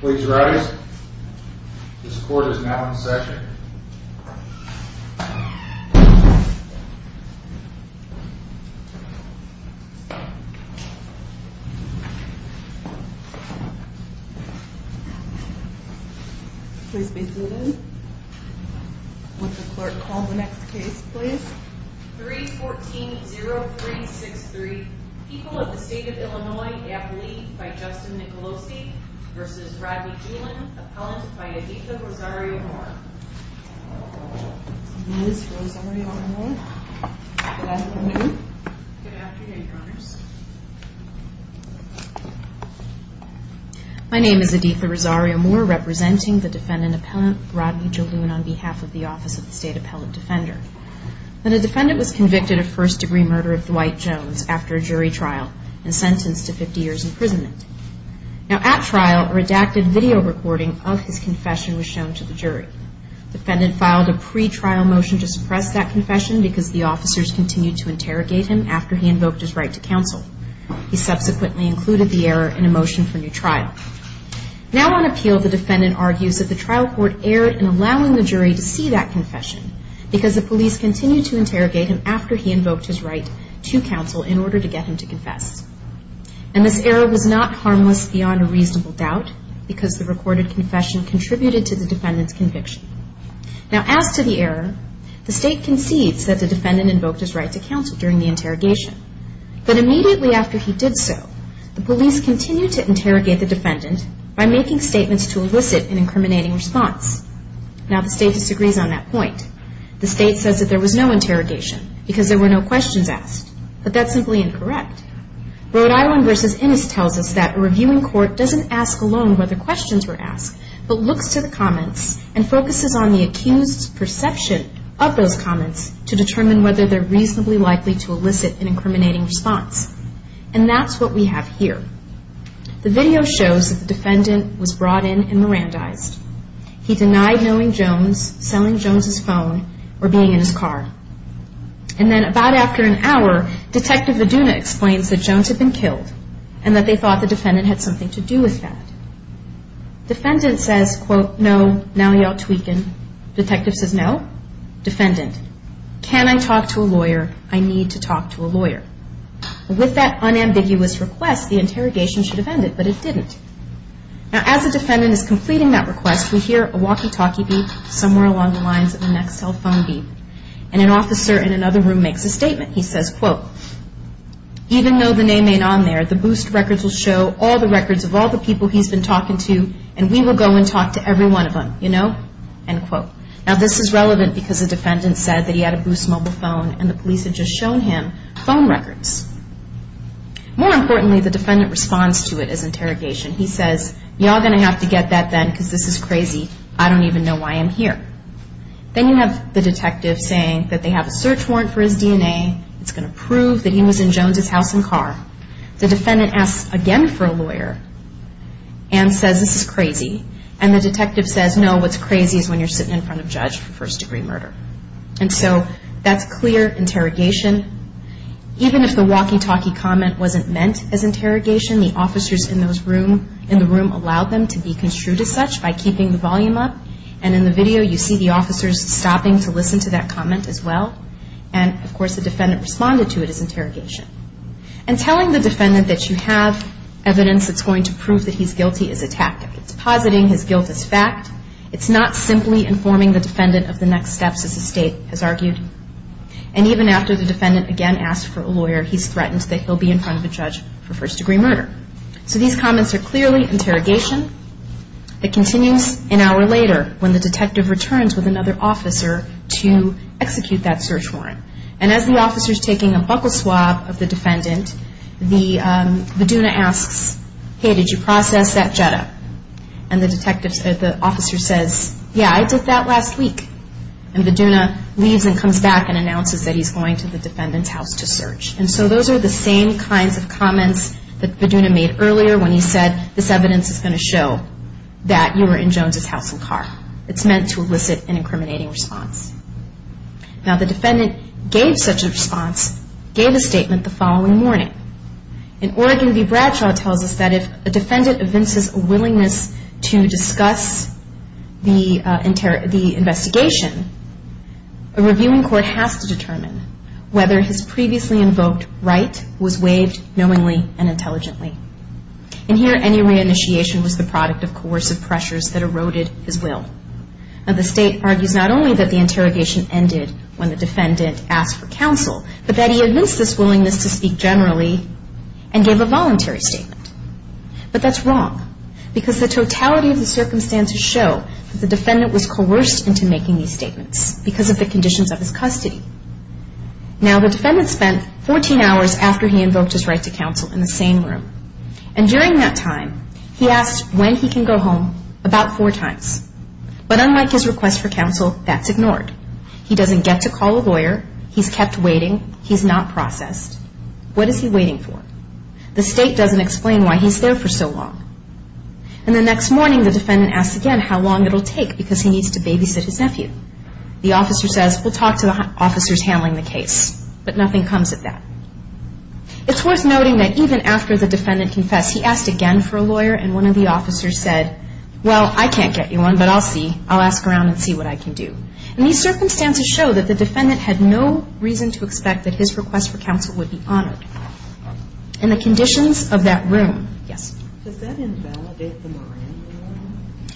Please rise. This court is now in session. Please be seated. Would the clerk call the next case, please? 314-0363, People of the State of Illinois, Appellee by Justin Nicolosi v. Rodney Julun, Appellant by Editha Rosario-Moore. Ms. Rosario-Moore, good afternoon. Good afternoon, Your Honors. My name is Editha Rosario-Moore, representing the defendant appellant, Rodney Julun, on behalf of the Office of the State Appellant Defender. The defendant was convicted of first-degree murder of Dwight Jones after a jury trial and sentenced to 50 years' imprisonment. At trial, a redacted video recording of his confession was shown to the jury. The defendant filed a pre-trial motion to suppress that confession because the officers continued to interrogate him after he invoked his right to counsel. He subsequently included the error in a motion for new trial. Now on appeal, the defendant argues that the trial court erred in allowing the jury to see that confession because the police continued to interrogate him after he invoked his right to counsel in order to get him to confess. And this error was not harmless beyond a reasonable doubt because the recorded confession contributed to the defendant's conviction. Now, as to the error, the State concedes that the defendant invoked his right to counsel during the interrogation. But immediately after he did so, the police continued to interrogate the defendant by making statements to elicit an incriminating response. Now the State disagrees on that point. The State says that there was no interrogation because there were no questions asked. But that's simply incorrect. Rhode Island v. Innis tells us that a reviewing court doesn't ask alone whether questions were asked, but looks to the comments and focuses on the accused's perception of those comments to determine whether they're reasonably likely to elicit an incriminating response. And that's what we have here. The video shows that the defendant was brought in and Mirandized. He denied knowing Jones, selling Jones' phone, or being in his car. And then about after an hour, Detective Aduna explains that Jones had been killed and that they thought the defendant had something to do with that. Defendant says, quote, no, now you ought to weaken. Detective says, no. Defendant, can I talk to a lawyer? I need to talk to a lawyer. With that unambiguous request, the interrogation should have ended, but it didn't. Now as the defendant is completing that request, we hear a walkie-talkie beep somewhere along the lines of the next cell phone beep. And an officer in another room makes a statement. He says, quote, even though the name ain't on there, the boost records will show all the records of all the people he's been talking to, and we will go and talk to every one of them, you know? End quote. Now this is relevant because the defendant said that he had a boost mobile phone and the police had just shown him phone records. More importantly, the defendant responds to it as interrogation. He says, you're all going to have to get that then because this is crazy. I don't even know why I'm here. Then you have the detective saying that they have a search warrant for his DNA. It's going to prove that he was in Jones' house and car. The defendant asks again for a lawyer and says, this is crazy. And the detective says, no, what's crazy is when you're sitting in front of a judge for first-degree murder. And so that's clear interrogation. Even if the walkie-talkie comment wasn't meant as interrogation, the officers in the room allowed them to be construed as such by keeping the volume up. And in the video, you see the officers stopping to listen to that comment as well. And, of course, the defendant responded to it as interrogation. And telling the defendant that you have evidence that's going to prove that he's guilty is a tactic. It's positing his guilt as fact. It's not simply informing the defendant of the next steps as the state has argued. And even after the defendant again asked for a lawyer, he's threatened that he'll be in front of a judge for first-degree murder. So these comments are clearly interrogation. It continues an hour later when the detective returns with another officer to execute that search warrant. And as the officer is taking a buckle swab of the defendant, the, um, Beduna asks, hey, did you process that Jetta? And the detective, the officer says, yeah, I did that last week. And Beduna leaves and comes back and announces that he's going to the defendant's house to search. And so those are the same kinds of comments that Beduna made earlier when he said, this evidence is going to show that you were in Jones' house and car. It's meant to elicit an incriminating response. Now, the defendant gave such a response, gave a statement the following morning. In Oregon v. Bradshaw it tells us that if a defendant evinces a willingness to discuss the investigation, a reviewing court has to determine whether his previously invoked right was waived knowingly and intelligently. And here any reinitiation was the product of coercive pressures that eroded his will. Now, the state argues not only that the interrogation ended when the defendant asked for counsel, but that he evinced this willingness to speak generally and gave a voluntary statement. But that's wrong because the totality of the circumstances show that the defendant was coerced into making these statements because of the conditions of his custody. Now, the defendant spent 14 hours after he invoked his right to counsel in the same room. And during that time he asked when he can go home about four times. But unlike his request for counsel, that's ignored. He doesn't get to call a lawyer. He's kept waiting. He's not processed. What is he waiting for? The state doesn't explain why he's there for so long. And the next morning the defendant asks again how long it will take because he needs to babysit his nephew. The officer says, we'll talk to the officers handling the case. But nothing comes of that. It's worth noting that even after the defendant confessed, he asked again for a lawyer, and one of the officers said, well, I can't get you one, but I'll see. I'll ask around and see what I can do. And these circumstances show that the defendant had no reason to expect that his request for counsel would be honored. And the conditions of that room, yes? Does that invalidate the Miranda warning?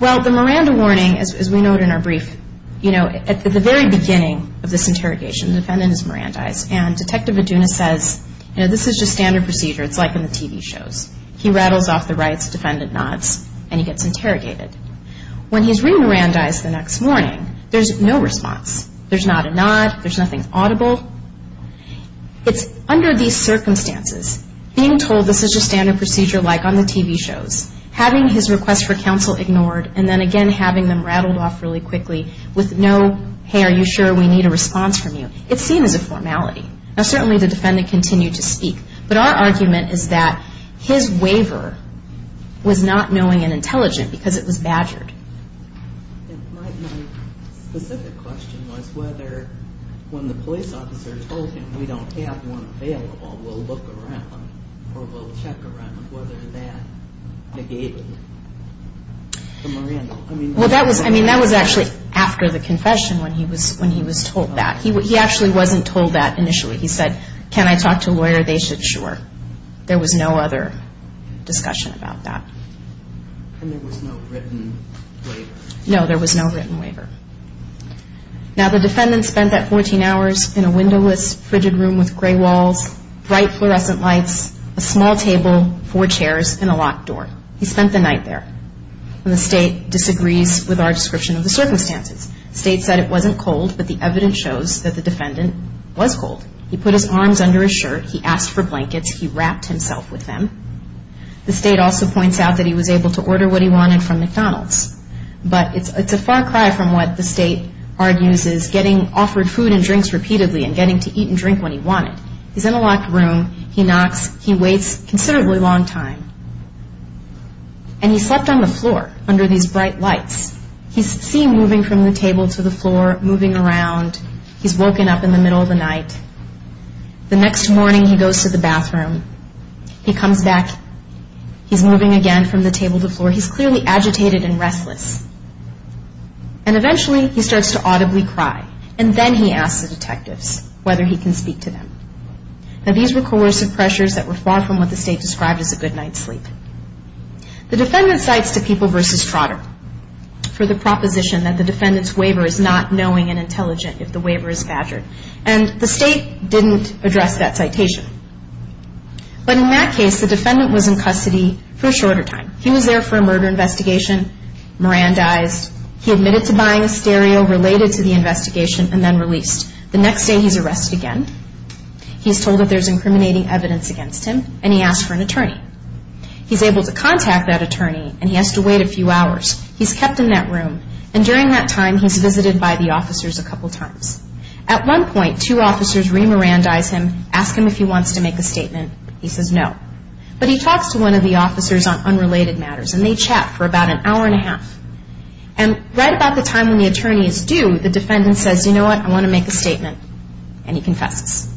Well, the Miranda warning, as we note in our brief, you know, at the very beginning of this interrogation, the defendant is Mirandized, and Detective Aduna says, you know, this is just standard procedure. It's like in the TV shows. He rattles off the right's defendant nods, and he gets interrogated. When he's re-Mirandized the next morning, there's no response. There's not a nod. There's nothing audible. It's under these circumstances, being told this is just standard procedure like on the TV shows, having his request for counsel ignored, and then again having them rattled off really quickly with no, hey, are you sure we need a response from you? It's seen as a formality. Now, certainly the defendant continued to speak. But our argument is that his waiver was not knowing and intelligent because it was badgered. My specific question was whether when the police officer told him we don't have one available, we'll look around or we'll check around whether that negated the Miranda. Well, that was actually after the confession when he was told that. He actually wasn't told that initially. He said, can I talk to a lawyer? They said, sure. There was no other discussion about that. And there was no written waiver? No, there was no written waiver. Now, the defendant spent that 14 hours in a windowless, frigid room with gray walls, bright fluorescent lights, a small table, four chairs, and a locked door. He spent the night there. And the State disagrees with our description of the circumstances. The State said it wasn't cold, but the evidence shows that the defendant was cold. He put his arms under his shirt. He asked for blankets. He wrapped himself with them. The State also points out that he was able to order what he wanted from McDonald's. But it's a far cry from what the State argues is getting offered food and drinks repeatedly and getting to eat and drink when he wanted. He's in a locked room. He knocks. He waits a considerably long time. And he slept on the floor under these bright lights. He's seen moving from the table to the floor, moving around. He's woken up in the middle of the night. The next morning, he goes to the bathroom. He comes back. He's moving again from the table to the floor. He's clearly agitated and restless. And eventually, he starts to audibly cry. And then he asks the detectives whether he can speak to them. Now, these were coercive pressures that were far from what the State described as a good night's sleep. The defendant cites to People v. Trotter for the proposition that the defendant's waiver is not knowing and intelligent if the waiver is badgered. And the State didn't address that citation. But in that case, the defendant was in custody for a shorter time. He was there for a murder investigation, Mirandized. He admitted to buying a stereo related to the investigation and then released. The next day, he's arrested again. He's told that there's incriminating evidence against him, and he asks for an attorney. He's able to contact that attorney, and he has to wait a few hours. He's kept in that room. And during that time, he's visited by the officers a couple times. At one point, two officers re-Mirandize him, ask him if he wants to make a statement. He says no. But he talks to one of the officers on unrelated matters, and they chat for about an hour and a half. And right about the time when the attorney is due, the defendant says, you know what, I want to make a statement. And he confesses.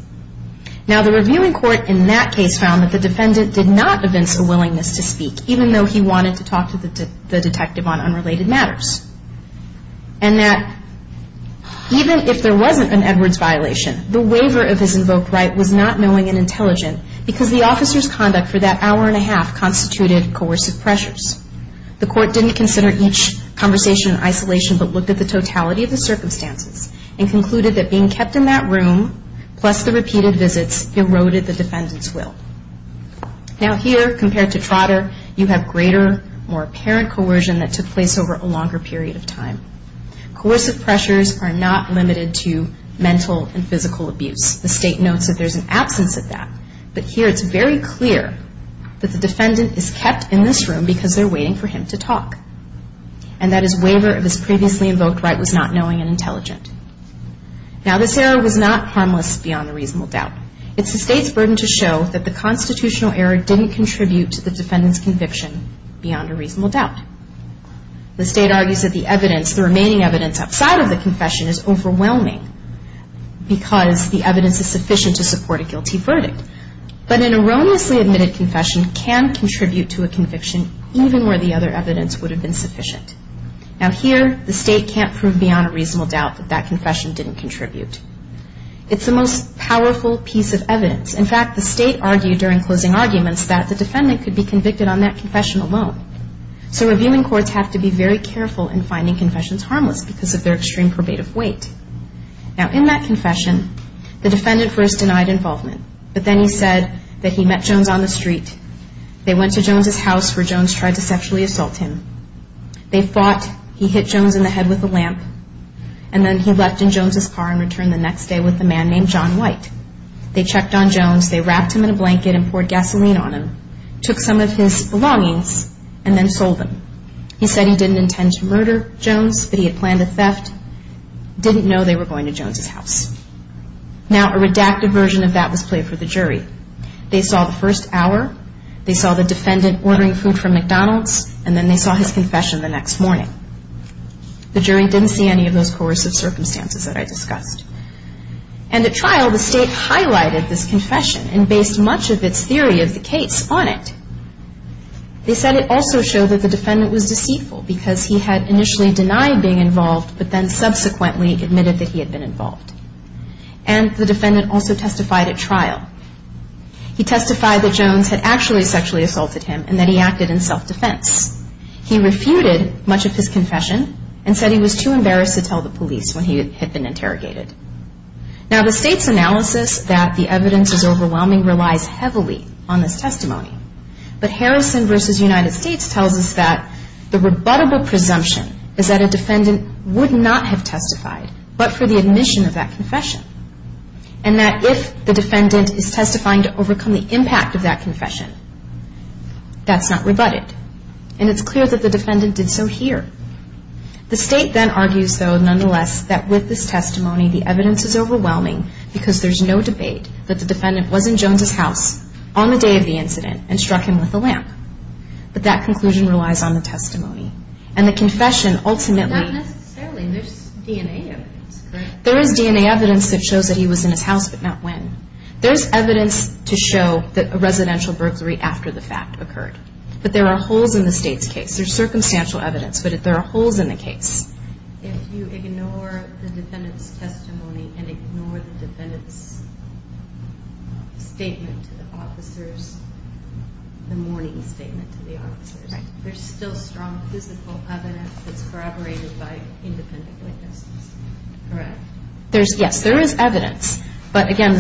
Now, the reviewing court in that case found that the defendant did not evince a willingness to speak, even though he wanted to talk to the detective on unrelated matters. And that even if there wasn't an Edwards violation, the waiver of his invoked right was not knowing and intelligent because the officer's conduct for that hour and a half constituted coercive pressures. The court didn't consider each conversation in isolation, but looked at the totality of the circumstances and concluded that being kept in that room, plus the repeated visits, eroded the defendant's will. Now, here, compared to Trotter, you have greater, more apparent coercion that took place over a longer period of time. Coercive pressures are not limited to mental and physical abuse. The state notes that there's an absence of that. But here, it's very clear that the defendant is kept in this room because they're waiting for him to talk. And that his waiver of his previously invoked right was not knowing and intelligent. Now, this error was not harmless beyond a reasonable doubt. It's the state's burden to show that the constitutional error didn't contribute to the defendant's conviction beyond a reasonable doubt. The state argues that the evidence, the remaining evidence outside of the confession is overwhelming because the evidence is sufficient to support a guilty verdict. But an erroneously admitted confession can contribute to a conviction, even where the other evidence would have been sufficient. Now, here, the state can't prove beyond a reasonable doubt that that confession didn't contribute. It's the most powerful piece of evidence. In fact, the state argued during closing arguments that the defendant could be convicted on that confession alone. So, reviewing courts have to be very careful in finding confessions harmless because of their extreme probative weight. Now, in that confession, the defendant first denied involvement. But then he said that he met Jones on the street. They went to Jones' house where Jones tried to sexually assault him. They fought. He hit Jones in the head with a lamp. And then he left in Jones' car and returned the next day with a man named John White. They checked on Jones. They wrapped him in a blanket and poured gasoline on him, took some of his belongings, and then sold them. He said he didn't intend to murder Jones, but he had planned a theft. Didn't know they were going to Jones' house. Now, a redacted version of that was played for the jury. They saw the first hour. They saw the defendant ordering food from McDonald's. And then they saw his confession the next morning. The jury didn't see any of those coercive circumstances that I discussed. And at trial, the state highlighted this confession and based much of its theory of the case on it. They said it also showed that the defendant was deceitful because he had initially denied being involved, but then subsequently admitted that he had been involved. And the defendant also testified at trial. He testified that Jones had actually sexually assaulted him and that he acted in self-defense. He refuted much of his confession and said he was too embarrassed to tell the police when he had been interrogated. Now, the state's analysis that the evidence is overwhelming relies heavily on this testimony. But Harrison v. United States tells us that the rebuttable presumption is that a defendant would not have testified but for the admission of that confession. And that if the defendant is testifying to overcome the impact of that confession, that's not rebutted. And it's clear that the defendant did so here. The state then argues, though, nonetheless, that with this testimony, the evidence is overwhelming because there's no debate that the defendant was in Jones' house on the day of the incident and struck him with a lamp. But that conclusion relies on the testimony. And the confession ultimately... But not necessarily. There's DNA evidence. There is DNA evidence that shows that he was in his house but not when. There's evidence to show that a residential burglary after the fact occurred. But there are holes in the state's case. There's circumstantial evidence, but there are holes in the case. If you ignore the defendant's testimony and ignore the defendant's statement to the officers, the morning statement to the officers, there's still strong physical evidence that's corroborated by independent witnesses. Correct? Yes, there is evidence. But whether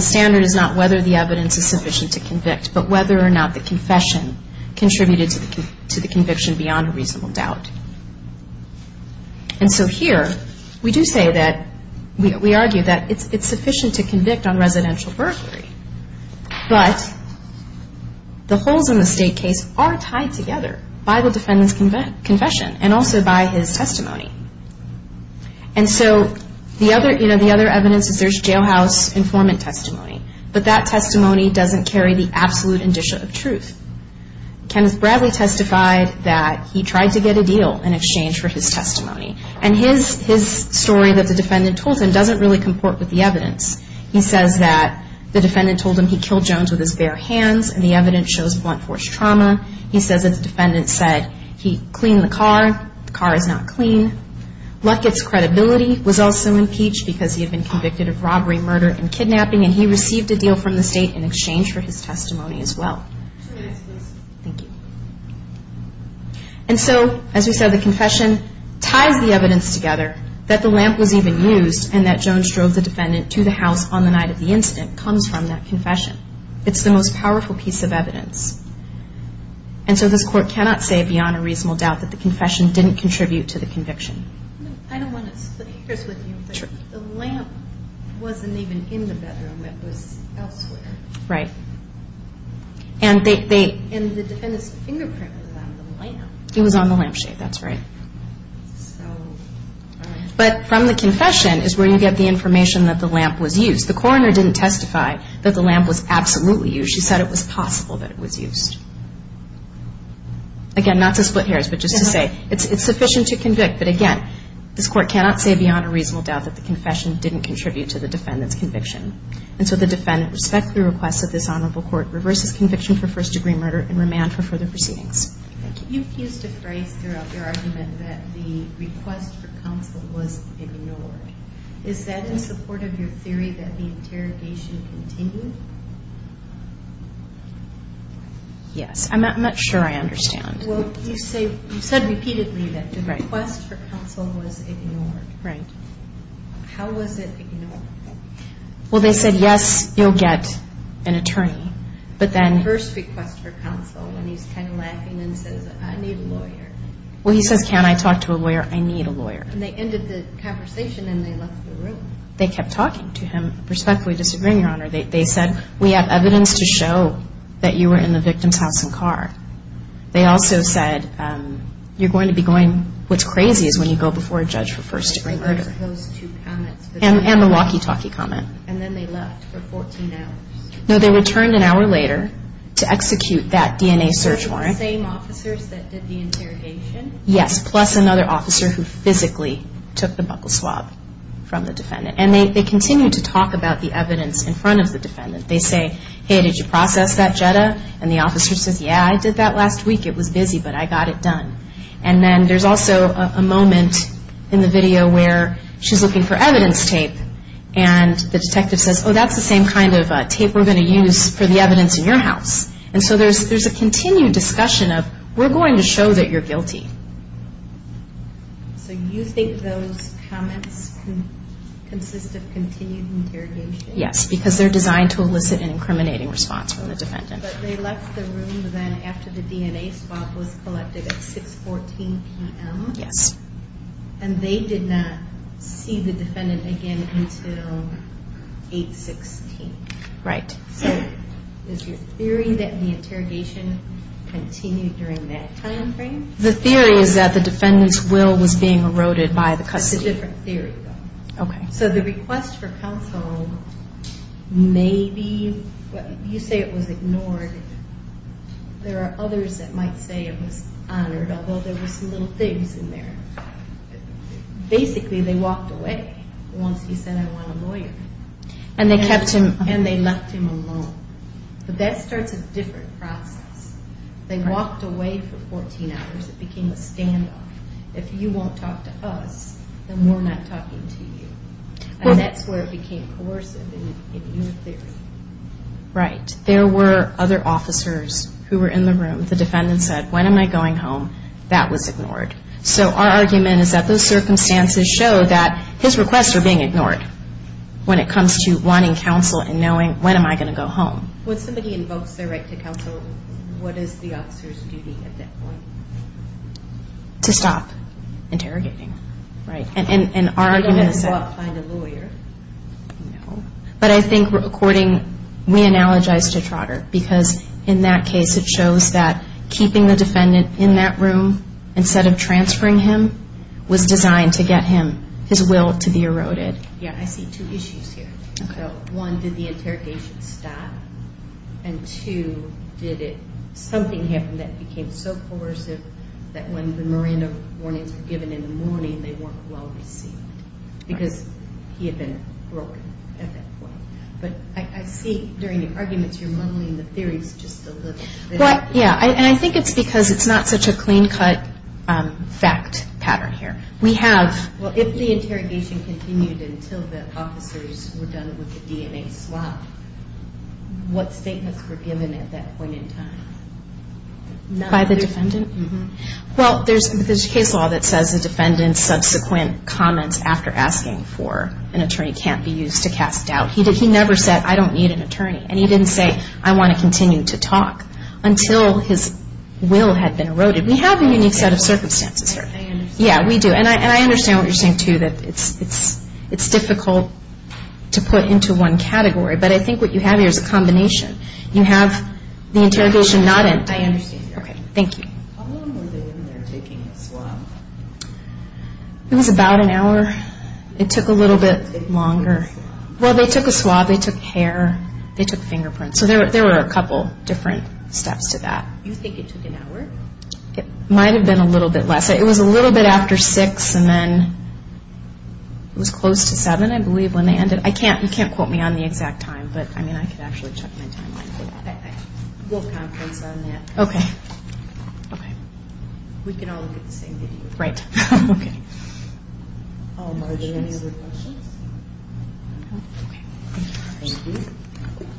or not the confession contributed to the conviction beyond a reasonable doubt. And so here, we do say that... We argue that it's sufficient to convict on residential burglary. But the holes in the state case are tied together by the defendant's confession and also by his testimony. And so the other evidence is there's jailhouse informant testimony. But that testimony doesn't carry the absolute indicia of truth. Kenneth Bradley testified that he tried to get a deal in exchange for his testimony. And his story that the defendant told him doesn't really comport with the evidence. He says that the defendant told him he killed Jones with his bare hands and the evidence shows blunt force trauma. He says that the defendant said he cleaned the car. The car is not clean. Luckett's credibility was also impeached because he had been convicted of robbery, murder, and kidnapping. And he received a deal from the state in exchange for his testimony as well. Two minutes, please. Thank you. And so, as we said, the confession ties the evidence together that the lamp was even used and that Jones drove the defendant to the house on the night of the incident comes from that confession. It's the most powerful piece of evidence. And so this court cannot say beyond a reasonable doubt that the confession didn't contribute to the conviction. I don't want to split hairs with you, but the lamp wasn't even in the bedroom. It was elsewhere. Right. And the defendant's fingerprint was on the lamp. It was on the lampshade. That's right. But from the confession is where you get the information that the lamp was used. The coroner didn't testify that the lamp was absolutely used. She said it was possible that it was used. Again, not to split hairs, but just to say it's sufficient to convict. But, again, this court cannot say beyond a reasonable doubt that the confession didn't contribute to the defendant's conviction. And so the defendant respects the request of this honorable court, reverses conviction for first-degree murder, and remand for further proceedings. Thank you. You used a phrase throughout your argument that the request for counsel was ignored. Is that in support of your theory that the interrogation continued? Yes. I'm not sure I understand. Well, you said repeatedly that the request for counsel was ignored. Right. How was it ignored? Well, they said, yes, you'll get an attorney. But then the first request for counsel when he's kind of laughing and says, I need a lawyer. Well, he says, can I talk to a lawyer? I need a lawyer. And they ended the conversation and they left the room. They kept talking to him, respectfully disagreeing, Your Honor. They said, we have evidence to show that you were in the victim's house and car. They also said, you're going to be going, what's crazy is when you go before a judge for first-degree murder. And the walkie-talkie comment. And then they left for 14 hours. No, they returned an hour later to execute that DNA search warrant. The same officers that did the interrogation? Yes, plus another officer who physically took the buckle swab from the defendant. And they continued to talk about the evidence in front of the defendant. They say, hey, did you process that JEDA? And the officer says, yeah, I did that last week. It was busy, but I got it done. And then there's also a moment in the video where she's looking for evidence tape. And the detective says, oh, that's the same kind of tape we're going to use for the evidence in your house. And so there's a continued discussion of, we're going to show that you're guilty. So you think those comments consist of continued interrogation? Yes, because they're designed to elicit an incriminating response from the defendant. But they left the room then after the DNA swab was collected at 6.14 p.m. Yes. And they did not see the defendant again until 8.16. Right. So is your theory that the interrogation continued during that time frame? The theory is that the defendant's will was being eroded by the custody. It's a different theory, though. Okay. So the request for counsel, maybe you say it was ignored. There are others that might say it was honored, although there were some little things in there. Basically, they walked away once he said, I want a lawyer. And they kept him. And they left him alone. But that starts a different process. They walked away for 14 hours. It became a standoff. If you won't talk to us, then we're not talking to you. And that's where it became coercive in your theory. Right. There were other officers who were in the room. The defendant said, when am I going home? That was ignored. So our argument is that those circumstances show that his requests were being ignored when it comes to wanting counsel and knowing when am I going to go home. When somebody invokes their right to counsel, what is the officer's duty at that point? To stop interrogating. Right. And our argument is that. You don't have to go out and find a lawyer. No. But I think, according, we analogize to Trotter because in that case, it shows that keeping the defendant in that room instead of transferring him was designed to get him, his will, to be eroded. Yeah, I see two issues here. Okay. So, one, did the interrogation stop? And, two, did something happen that became so coercive that when the Miranda warnings were given in the morning, they weren't well received because he had been broken at that point? But I see during the arguments you're modeling the theories just a little bit. Yeah, and I think it's because it's not such a clean-cut fact pattern here. We have. Well, if the interrogation continued until the officers were done with the DNA swab, what statements were given at that point in time? By the defendant? Mm-hmm. Well, there's case law that says the defendant's subsequent comments after asking for an attorney can't be used to cast doubt. He never said, I don't need an attorney. And he didn't say, I want to continue to talk until his will had been eroded. We have a unique set of circumstances here. I understand. Yeah, we do. And I understand what you're saying, too, that it's difficult to put into one category. But I think what you have here is a combination. You have the interrogation not in. I understand. Okay, thank you. How long were they in there taking a swab? It was about an hour. It took a little bit longer. They took a swab. Well, they took a swab. They took hair. They took fingerprints. So there were a couple different steps to that. You think it took an hour? It might have been a little bit less. It was a little bit after 6 and then it was close to 7, I believe, when they ended. You can't quote me on the exact time. But, I mean, I could actually check my timeline. We'll conference on that. Okay. Okay. We can all look at the same video. Right. Okay. Are there any other questions? No. Okay. Thank you. Thank you.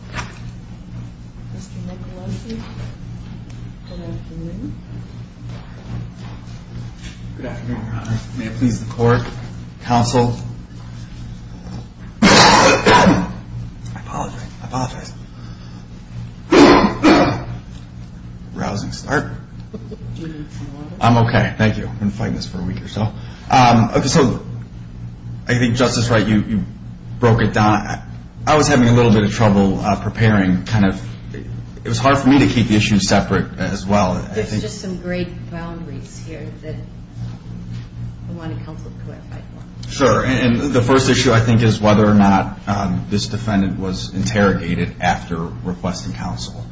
Mr. Nicolosi, good afternoon. Good afternoon, Your Honor. May it please the court, counsel. I apologize. I apologize. Rousing start. Do you need some water? I'm okay. Thank you. I've been fighting this for a week or so. Okay, so I think Justice Wright, you broke it down. I was having a little bit of trouble preparing, kind of. It was hard for me to keep the issues separate as well. There's just some great boundaries here that I wanted counsel to clarify. Sure. And the first issue, I think, is whether or not this defendant was interrogated after requesting counsel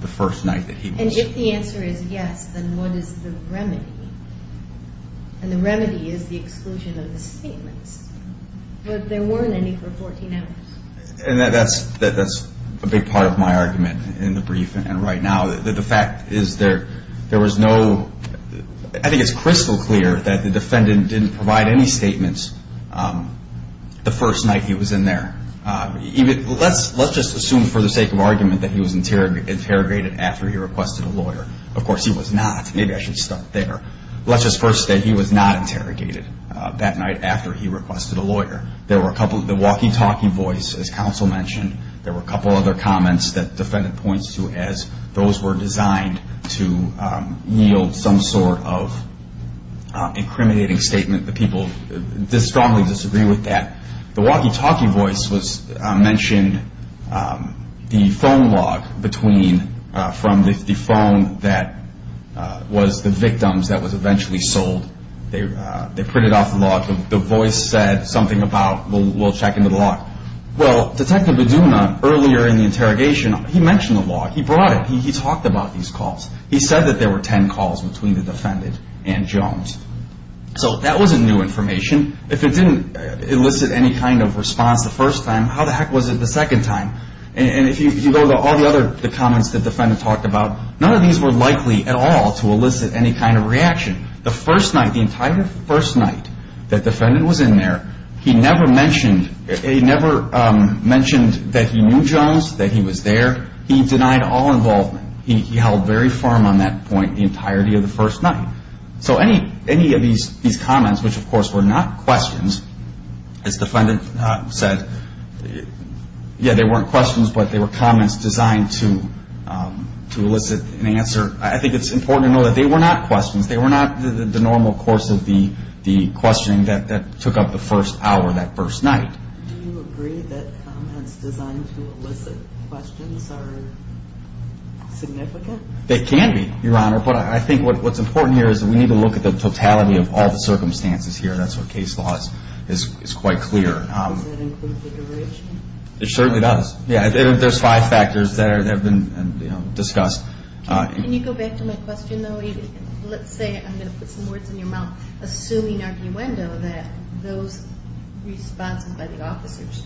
the first night that he was here. And if the answer is yes, then what is the remedy? And the remedy is the exclusion of the statements. But there weren't any for 14 hours. And that's a big part of my argument in the brief and right now, that the fact is there was no ñ I think it's crystal clear that the defendant didn't provide any statements the first night he was in there. Let's just assume, for the sake of argument, that he was interrogated after he requested a lawyer. Of course, he was not. Maybe I should stop there. Let's just first say he was not interrogated that night after he requested a lawyer. The walkie-talkie voice, as counsel mentioned, there were a couple other comments that the defendant points to as those were designed to yield some sort of incriminating statement. The people strongly disagree with that. The walkie-talkie voice mentioned the phone log between, from the phone that was the victim's that was eventually sold. They printed off the log. The voice said something about, well, we'll check into the log. Well, Detective Beduma, earlier in the interrogation, he mentioned the log. He brought it. He talked about these calls. He said that there were ten calls between the defendant and Jones. So that wasn't new information. If it didn't elicit any kind of response the first time, how the heck was it the second time? And if you go to all the other comments that the defendant talked about, none of these were likely at all to elicit any kind of reaction. The first night, the entire first night that the defendant was in there, he never mentioned that he knew Jones, that he was there. He denied all involvement. He held very firm on that point the entirety of the first night. So any of these comments, which, of course, were not questions, as the defendant said, yeah, they weren't questions, but they were comments designed to elicit an answer. I think it's important to know that they were not questions. They were not the normal course of the questioning that took up the first hour that first night. Do you agree that comments designed to elicit questions are significant? They can be, Your Honor. But I think what's important here is we need to look at the totality of all the circumstances here. That's what case law is quite clear. Does that include the duration? It certainly does. Yeah, there's five factors that have been discussed. Can you go back to my question, though? Let's say I'm going to put some words in your mouth, assuming arguendo that those responses by the officers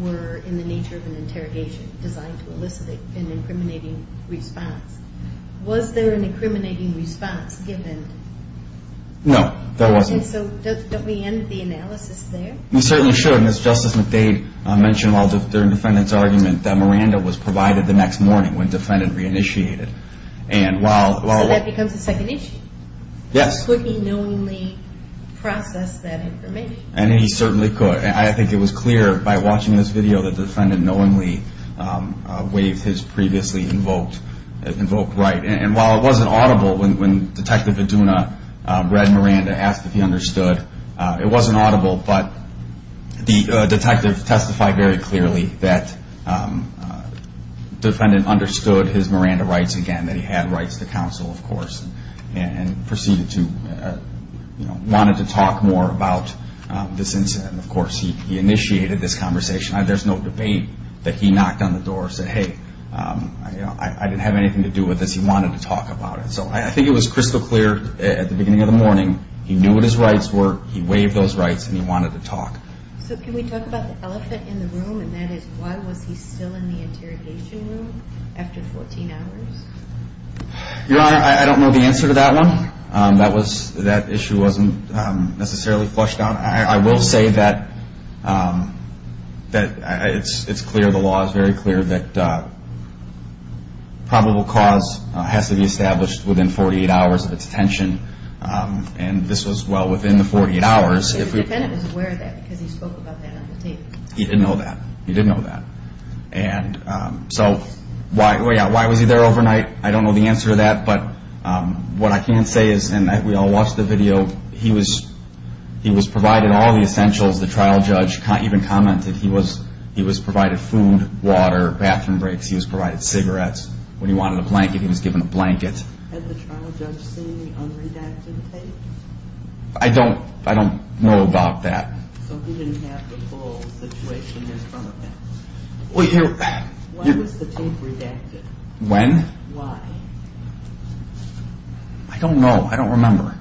were in the nature of an interrogation designed to elicit an incriminating response. Was there an incriminating response given? No, there wasn't. So don't we end the analysis there? We certainly should. As Justice McDade mentioned during the defendant's argument, that Miranda was provided the next morning when the defendant reinitiated. So that becomes the second issue? Yes. Could he knowingly process that information? He certainly could. I think it was clear by watching this video that the defendant knowingly waived his previously invoked right. And while it wasn't audible when Detective Iduna read Miranda, asked if he understood, it wasn't audible, but the detective testified very clearly that the defendant understood his Miranda rights again, that he had rights to counsel, of course, and proceeded to want to talk more about this incident. Of course, he initiated this conversation. There's no debate that he knocked on the door and said, hey, I didn't have anything to do with this. He wanted to talk about it. So I think it was crystal clear at the beginning of the morning. He knew what his rights were. He waived those rights, and he wanted to talk. So can we talk about the elephant in the room, and that is why was he still in the interrogation room after 14 hours? Your Honor, I don't know the answer to that one. That issue wasn't necessarily flushed out. I will say that it's clear, the law is very clear that probable cause has to be established within 48 hours of its detention, and this was, well, within the 48 hours. The defendant was aware of that because he spoke about that on the tape. He didn't know that. He didn't know that. And so why was he there overnight? I don't know the answer to that, but what I can say is, and we all watched the video, he was provided all the essentials. The trial judge even commented he was provided food, water, bathroom breaks. He was provided cigarettes. When he wanted a blanket, he was given a blanket. Had the trial judge seen the unredacted tape? I don't know about that. So he didn't have the full situation in front of him? Well, you're... When was the tape redacted? When? Why? I don't know. I don't remember.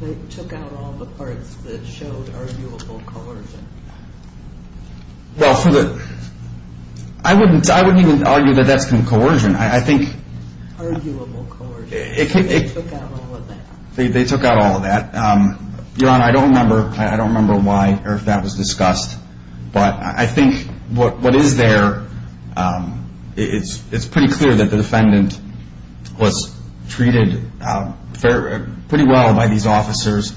They took out all the parts that showed arguable coercion. Well, for the... I wouldn't even argue that that's been coercion. I think... Arguable coercion. They took out all of that. They took out all of that. Your Honor, I don't remember why or if that was discussed, but I think what is there, it's pretty clear that the defendant was treated pretty well by these officers.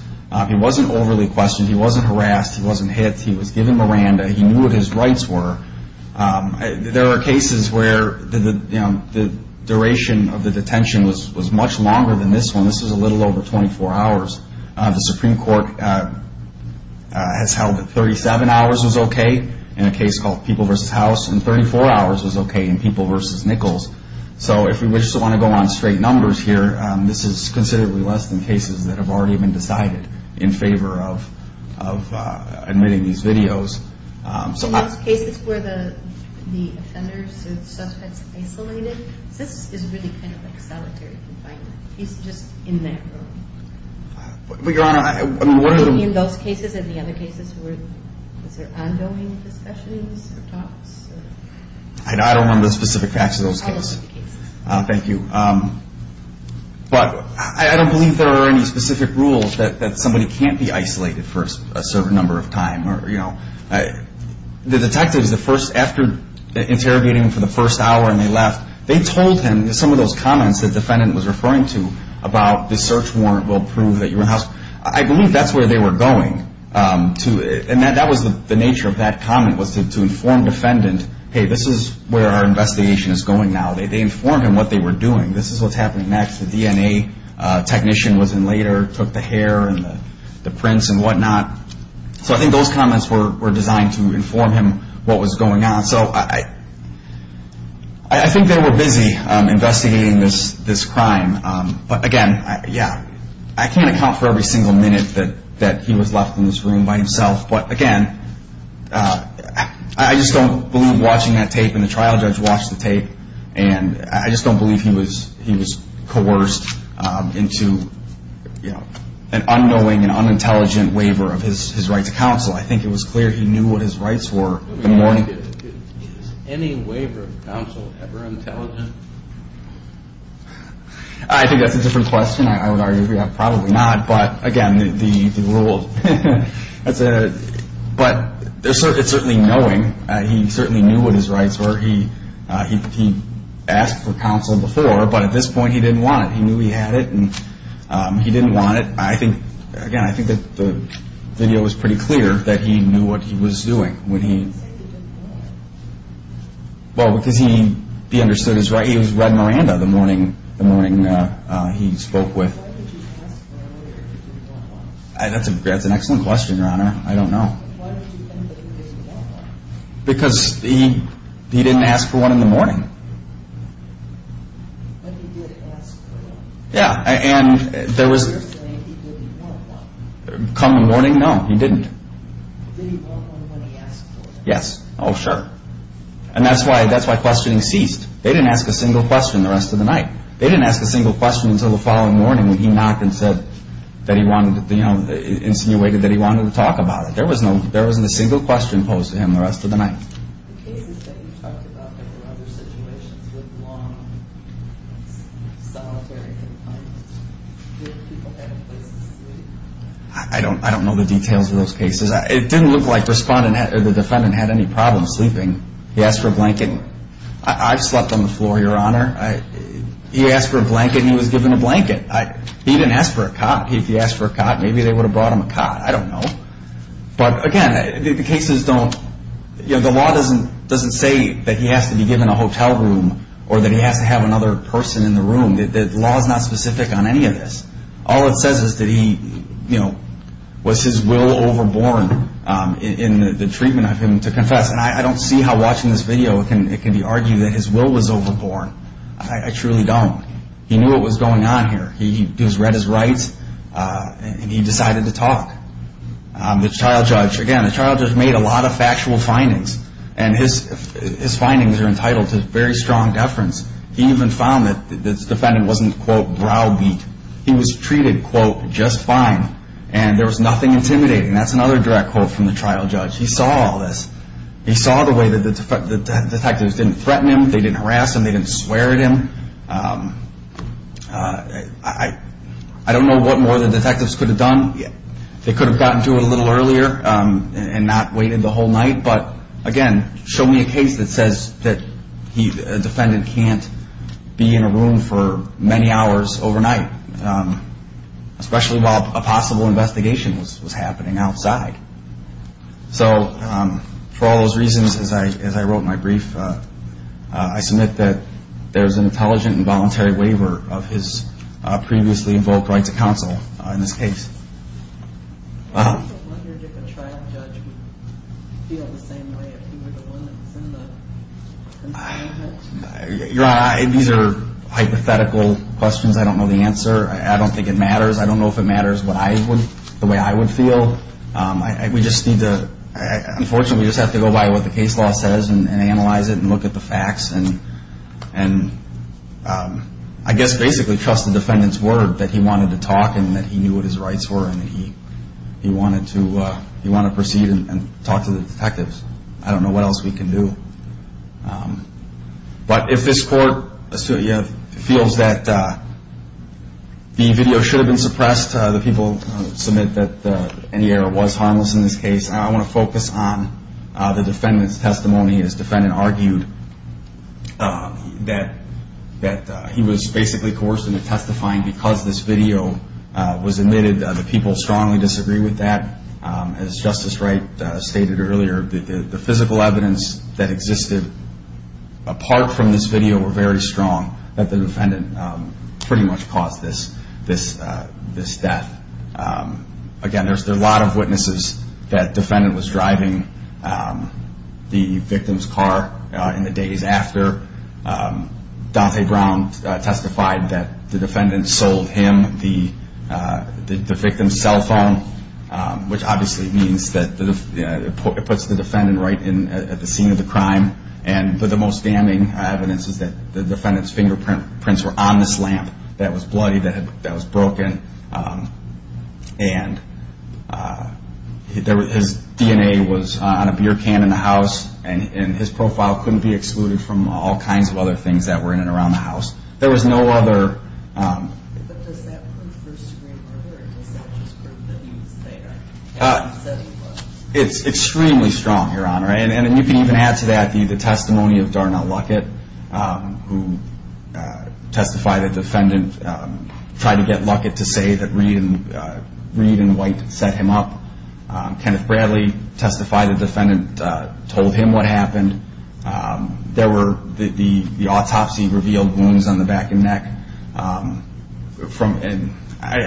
He wasn't overly questioned. He wasn't harassed. He wasn't hit. He was given Miranda. He knew what his rights were. There are cases where the duration of the detention was much longer than this one. This was a little over 24 hours. The Supreme Court has held that 37 hours was okay in a case called People v. House, and 34 hours was okay in People v. Nichols. So if we just want to go on straight numbers here, this is considerably less than cases that have already been decided in favor of admitting these videos. In those cases where the offenders and suspects isolated, this is really kind of like solitary confinement. He's just in that room. But, Your Honor, one of the... I don't remember the specific facts of those cases. Thank you. But I don't believe there are any specific rules that somebody can't be isolated for a certain number of time. The detectives, after interrogating him for the first hour and they left, they told him some of those comments the defendant was referring to about the search warrant will prove that you were housed. I believe that's where they were going. And that was the nature of that comment was to inform the defendant, hey, this is where our investigation is going now. They informed him what they were doing. This is what's happening next. The DNA technician was in later, took the hair and the prints and whatnot. So I think those comments were designed to inform him what was going on. So I think they were busy investigating this crime. But, again, yeah, I can't account for every single minute that he was left in this room by himself. But, again, I just don't believe watching that tape and the trial judge watched the tape, and I just don't believe he was coerced into an unknowing and unintelligent waiver of his right to counsel. I think it was clear he knew what his rights were. Is any waiver of counsel ever intelligent? I think that's a different question. I would argue probably not. But, again, the rule. But it's certainly knowing. He certainly knew what his rights were. He asked for counsel before, but at this point he didn't want it. He knew he had it, and he didn't want it. I think, again, I think that the video was pretty clear that he knew what he was doing. Why didn't he want it? Well, because he understood his rights. He was Red Miranda the morning he spoke with. Why did you ask for a waiver if you didn't want one? That's an excellent question, Your Honor. I don't know. Why did you think that he didn't want one? Because he didn't ask for one in the morning. But he did ask for one. Yeah, and there was... You're saying he didn't want one. Come morning, no, he didn't. Did he want one when he asked for it? Yes. Oh, sure. And that's why questioning ceased. They didn't ask a single question the rest of the night. They didn't ask a single question until the following morning when he knocked and said that he wanted, you know, insinuated that he wanted to talk about it. There wasn't a single question posed to him the rest of the night. The cases that you talked about and other situations with long, solitary confines, did people have a place to sleep? I don't know the details of those cases. It didn't look like the defendant had any problem sleeping. He asked for a blanket, and I've slept on the floor, Your Honor. He asked for a blanket, and he was given a blanket. He didn't ask for a cot. If he asked for a cot, maybe they would have brought him a cot. I don't know. But, again, the cases don't, you know, the law doesn't say that he has to be given a hotel room or that he has to have another person in the room. The law is not specific on any of this. All it says is that he, you know, was his will overborn in the treatment of him to confess. And I don't see how watching this video it can be argued that his will was overborn. I truly don't. He knew what was going on here. He read his rights, and he decided to talk. The trial judge, again, the trial judge made a lot of factual findings, and his findings are entitled to very strong deference. He even found that the defendant wasn't, quote, browbeat. He was treated, quote, just fine, and there was nothing intimidating. That's another direct quote from the trial judge. He saw all this. He saw the way that the detectives didn't threaten him, they didn't harass him, they didn't swear at him. I don't know what more the detectives could have done. They could have gotten to it a little earlier and not waited the whole night. But, again, show me a case that says that a defendant can't be in a room for many hours overnight, especially while a possible investigation was happening outside. So for all those reasons, as I wrote in my brief, I submit that there's an intelligent and voluntary waiver of his previously invoked right to counsel in this case. I wonder if a trial judge would feel the same way if he were the one that sent the complaint. These are hypothetical questions. I don't know the answer. I don't think it matters. I don't know if it matters the way I would feel. Unfortunately, we just have to go by what the case law says and analyze it and look at the facts and I guess basically trust the defendant's word that he wanted to talk and that he knew what his rights were and that he wanted to proceed and talk to the detectives. I don't know what else we can do. But if this court feels that the video should have been suppressed, the people submit that any error was harmless in this case. I want to focus on the defendant's testimony. His defendant argued that he was basically coerced into testifying because this video was omitted. The people strongly disagree with that. As Justice Wright stated earlier, the physical evidence that existed apart from this video were very strong that the defendant pretty much caused this death. Again, there are a lot of witnesses that the defendant was driving the victim's car in the days after. Dante Brown testified that the defendant sold him the victim's cell phone, which obviously means that it puts the defendant right at the scene of the crime. But the most damning evidence is that the defendant's fingerprints were on this lamp that was bloody, that was broken. And his DNA was on a beer can in the house and his profile couldn't be excluded from all kinds of other things that were in and around the house. There was no other... It's extremely strong, Your Honor. And you can even add to that the testimony of Darnell Luckett, who testified that the defendant tried to get Luckett to say that Reed and White set him up. Kenneth Bradley testified that the defendant told him what happened. There were the autopsy revealed wounds on the back and neck. I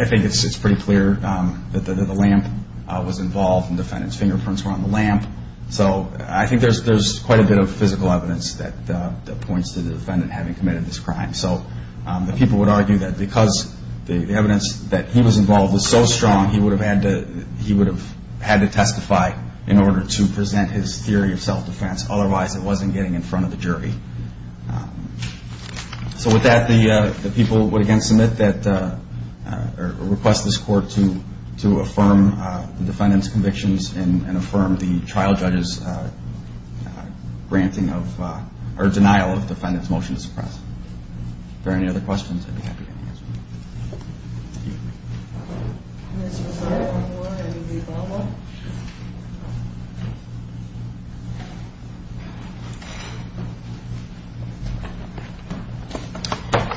think it's pretty clear that the lamp was involved and the defendant's fingerprints were on the lamp. So I think there's quite a bit of physical evidence that points to the defendant having committed this crime. So the people would argue that because the evidence that he was involved was so strong, he would have had to testify in order to present his theory of self-defense. Otherwise, it wasn't getting in front of the jury. So with that, the people would again submit that or request this court to affirm the defendant's convictions and affirm the trial judge's granting of or denial of the defendant's motion to suppress. If there are any other questions, I'd be happy to answer them. Thank you. Ms. O'Hara.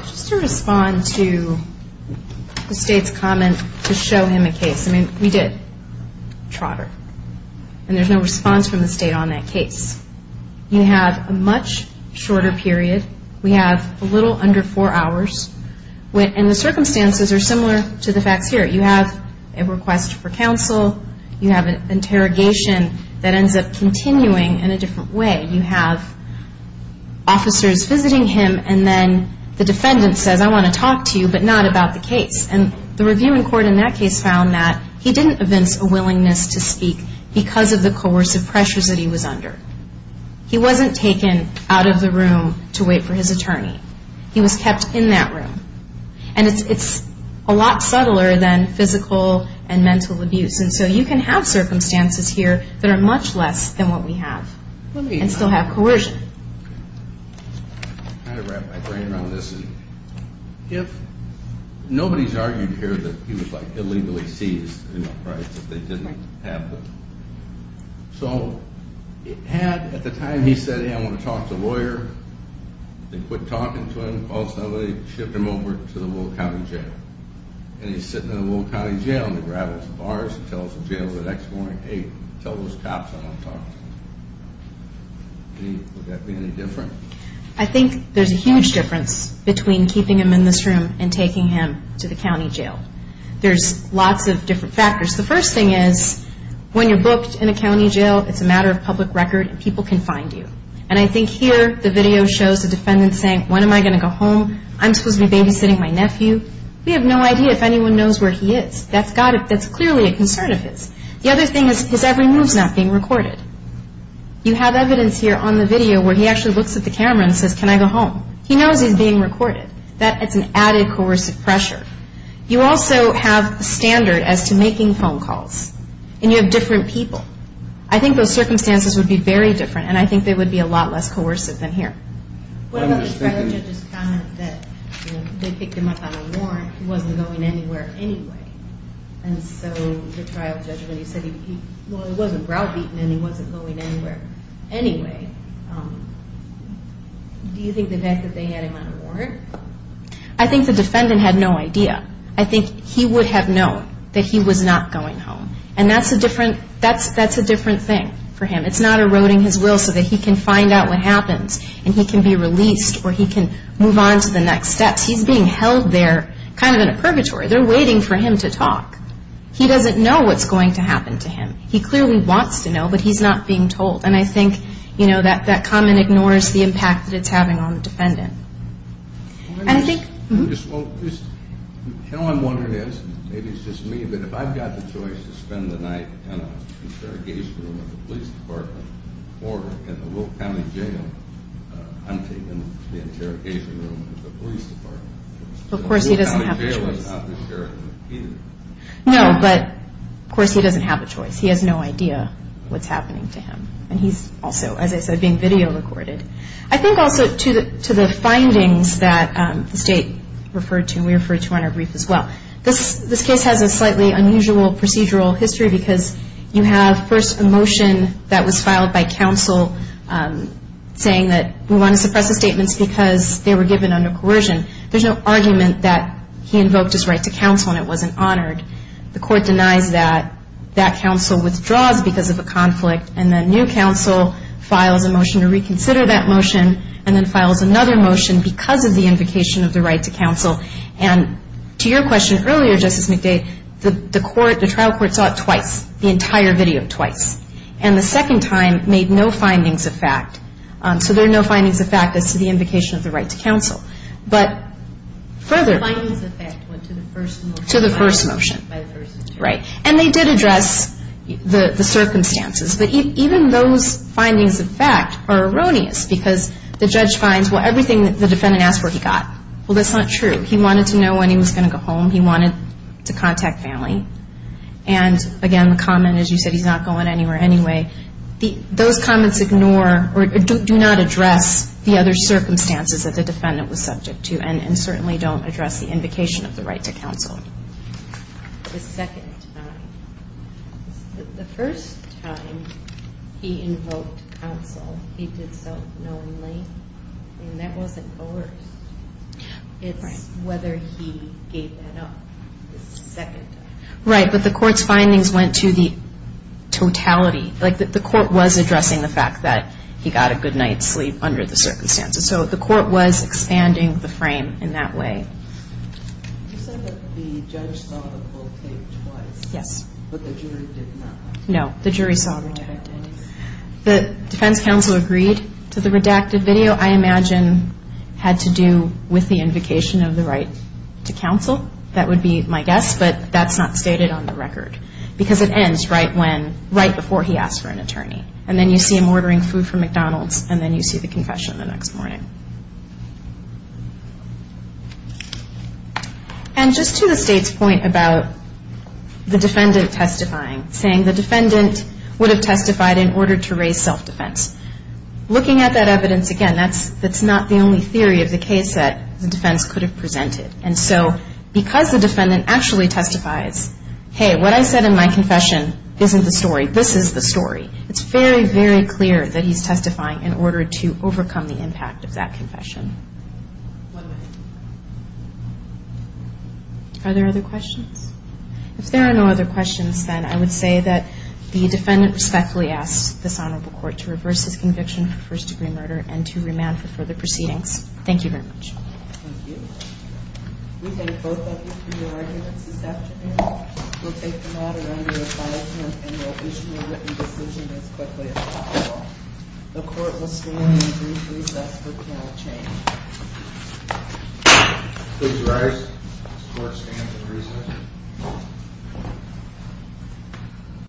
Just to respond to the State's comment to show him a case. I mean, we did trotter, and there's no response from the State on that case. We have a much shorter period. We have a little under four hours. And the circumstances are similar to the facts here. You have a request for counsel. You have an interrogation that ends up continuing in a different way. You have officers visiting him, and then the defendant says, I want to talk to you, but not about the case. And the review in court in that case found that he didn't evince a willingness to speak because of the coercive pressures that he was under. He wasn't taken out of the room to wait for his attorney. He was kept in that room. And it's a lot subtler than physical and mental abuse. And so you can have circumstances here that are much less than what we have and still have coercion. Let me kind of wrap my brain around this. If nobody's argued here that he was, like, illegally seized, right, that they didn't have the – I think there's a huge difference between keeping him in this room and taking him to the county jail. There's lots of different factors. The first thing is when you're booked in a county jail, it's a matter of public record, and people can find you. And I think here the video shows the defendant saying, when am I going to go home? I'm supposed to be babysitting my nephew. We have no idea if anyone knows where he is. That's clearly a concern of his. The other thing is his every move's not being recorded. You have evidence here on the video where he actually looks at the camera and says, can I go home? He knows he's being recorded. That's an added coercive pressure. You also have a standard as to making phone calls. And you have different people. I think those circumstances would be very different, and I think they would be a lot less coercive than here. What about the trial judge's comment that, you know, they picked him up on a warrant. He wasn't going anywhere anyway. And so the trial judge, when he said he – well, he wasn't browbeaten, and he wasn't going anywhere anyway. Do you think the fact that they had him on a warrant? I think the defendant had no idea. I think he would have known that he was not going home. And that's a different thing for him. It's not eroding his will so that he can find out what happens and he can be released or he can move on to the next steps. He's being held there kind of in a purgatory. They're waiting for him to talk. He doesn't know what's going to happen to him. He clearly wants to know, but he's not being told. And I think, you know, that comment ignores the impact that it's having on the defendant. And I think – Of course he doesn't have a choice. No, but of course he doesn't have a choice. He has no idea what's happening to him. And he's also, as I said, being video recorded. I think also to the findings that the State referred to, and we referred to on our brief as well, this case has a slightly unusual procedural history because you have first a motion that was filed by counsel saying that we want to suppress the statements because they were given under coercion. There's no argument that he invoked his right to counsel and it wasn't honored. The court denies that. That counsel withdraws because of a conflict. And then new counsel files a motion to reconsider that motion and then files another motion because of the invocation of the right to counsel. And to your question earlier, Justice McDade, the trial court saw it twice, the entire video twice. And the second time made no findings of fact. So there are no findings of fact as to the invocation of the right to counsel. But further – The findings of fact went to the first motion. To the first motion, right. And they did address the circumstances. But even those findings of fact are erroneous because the judge finds, well, everything the defendant asked for he got. Well, that's not true. He wanted to know when he was going to go home. He wanted to contact family. And, again, the comment is you said he's not going anywhere anyway. Those comments ignore or do not address the other circumstances that the defendant was subject to and certainly don't address the invocation of the right to counsel. The second time. The first time he invoked counsel, he did so knowingly, and that wasn't over. It's whether he gave that up the second time. Right, but the court's findings went to the totality. Like, the court was addressing the fact that he got a good night's sleep under the circumstances. So the court was expanding the frame in that way. You said that the judge saw the full tape twice. Yes. But the jury did not. No, the jury saw the tape. The defense counsel agreed to the redacted video. I imagine had to do with the invocation of the right to counsel. That would be my guess, but that's not stated on the record because it ends right before he asked for an attorney. And then you see him ordering food from McDonald's, and then you see the confession the next morning. And just to the State's point about the defendant testifying, saying the defendant would have testified in order to raise self-defense, looking at that evidence, again, that's not the only theory of the case that the defense could have presented. And so because the defendant actually testifies, hey, what I said in my confession isn't the story, this is the story, it's very, very clear that he's testifying in order to overcome the impact of that confession. One minute. Are there other questions? If there are no other questions, then I would say that the defendant respectfully asks this Honorable Court to reverse his conviction for first-degree murder and to remand for further proceedings. Thank you very much. Thank you. We thank both of you for your arguments this afternoon. We'll take the matter under advisement and we'll issue a written decision as quickly as possible. The Court will stand in brief recess with panel change. Please rise. The Court stands in recess.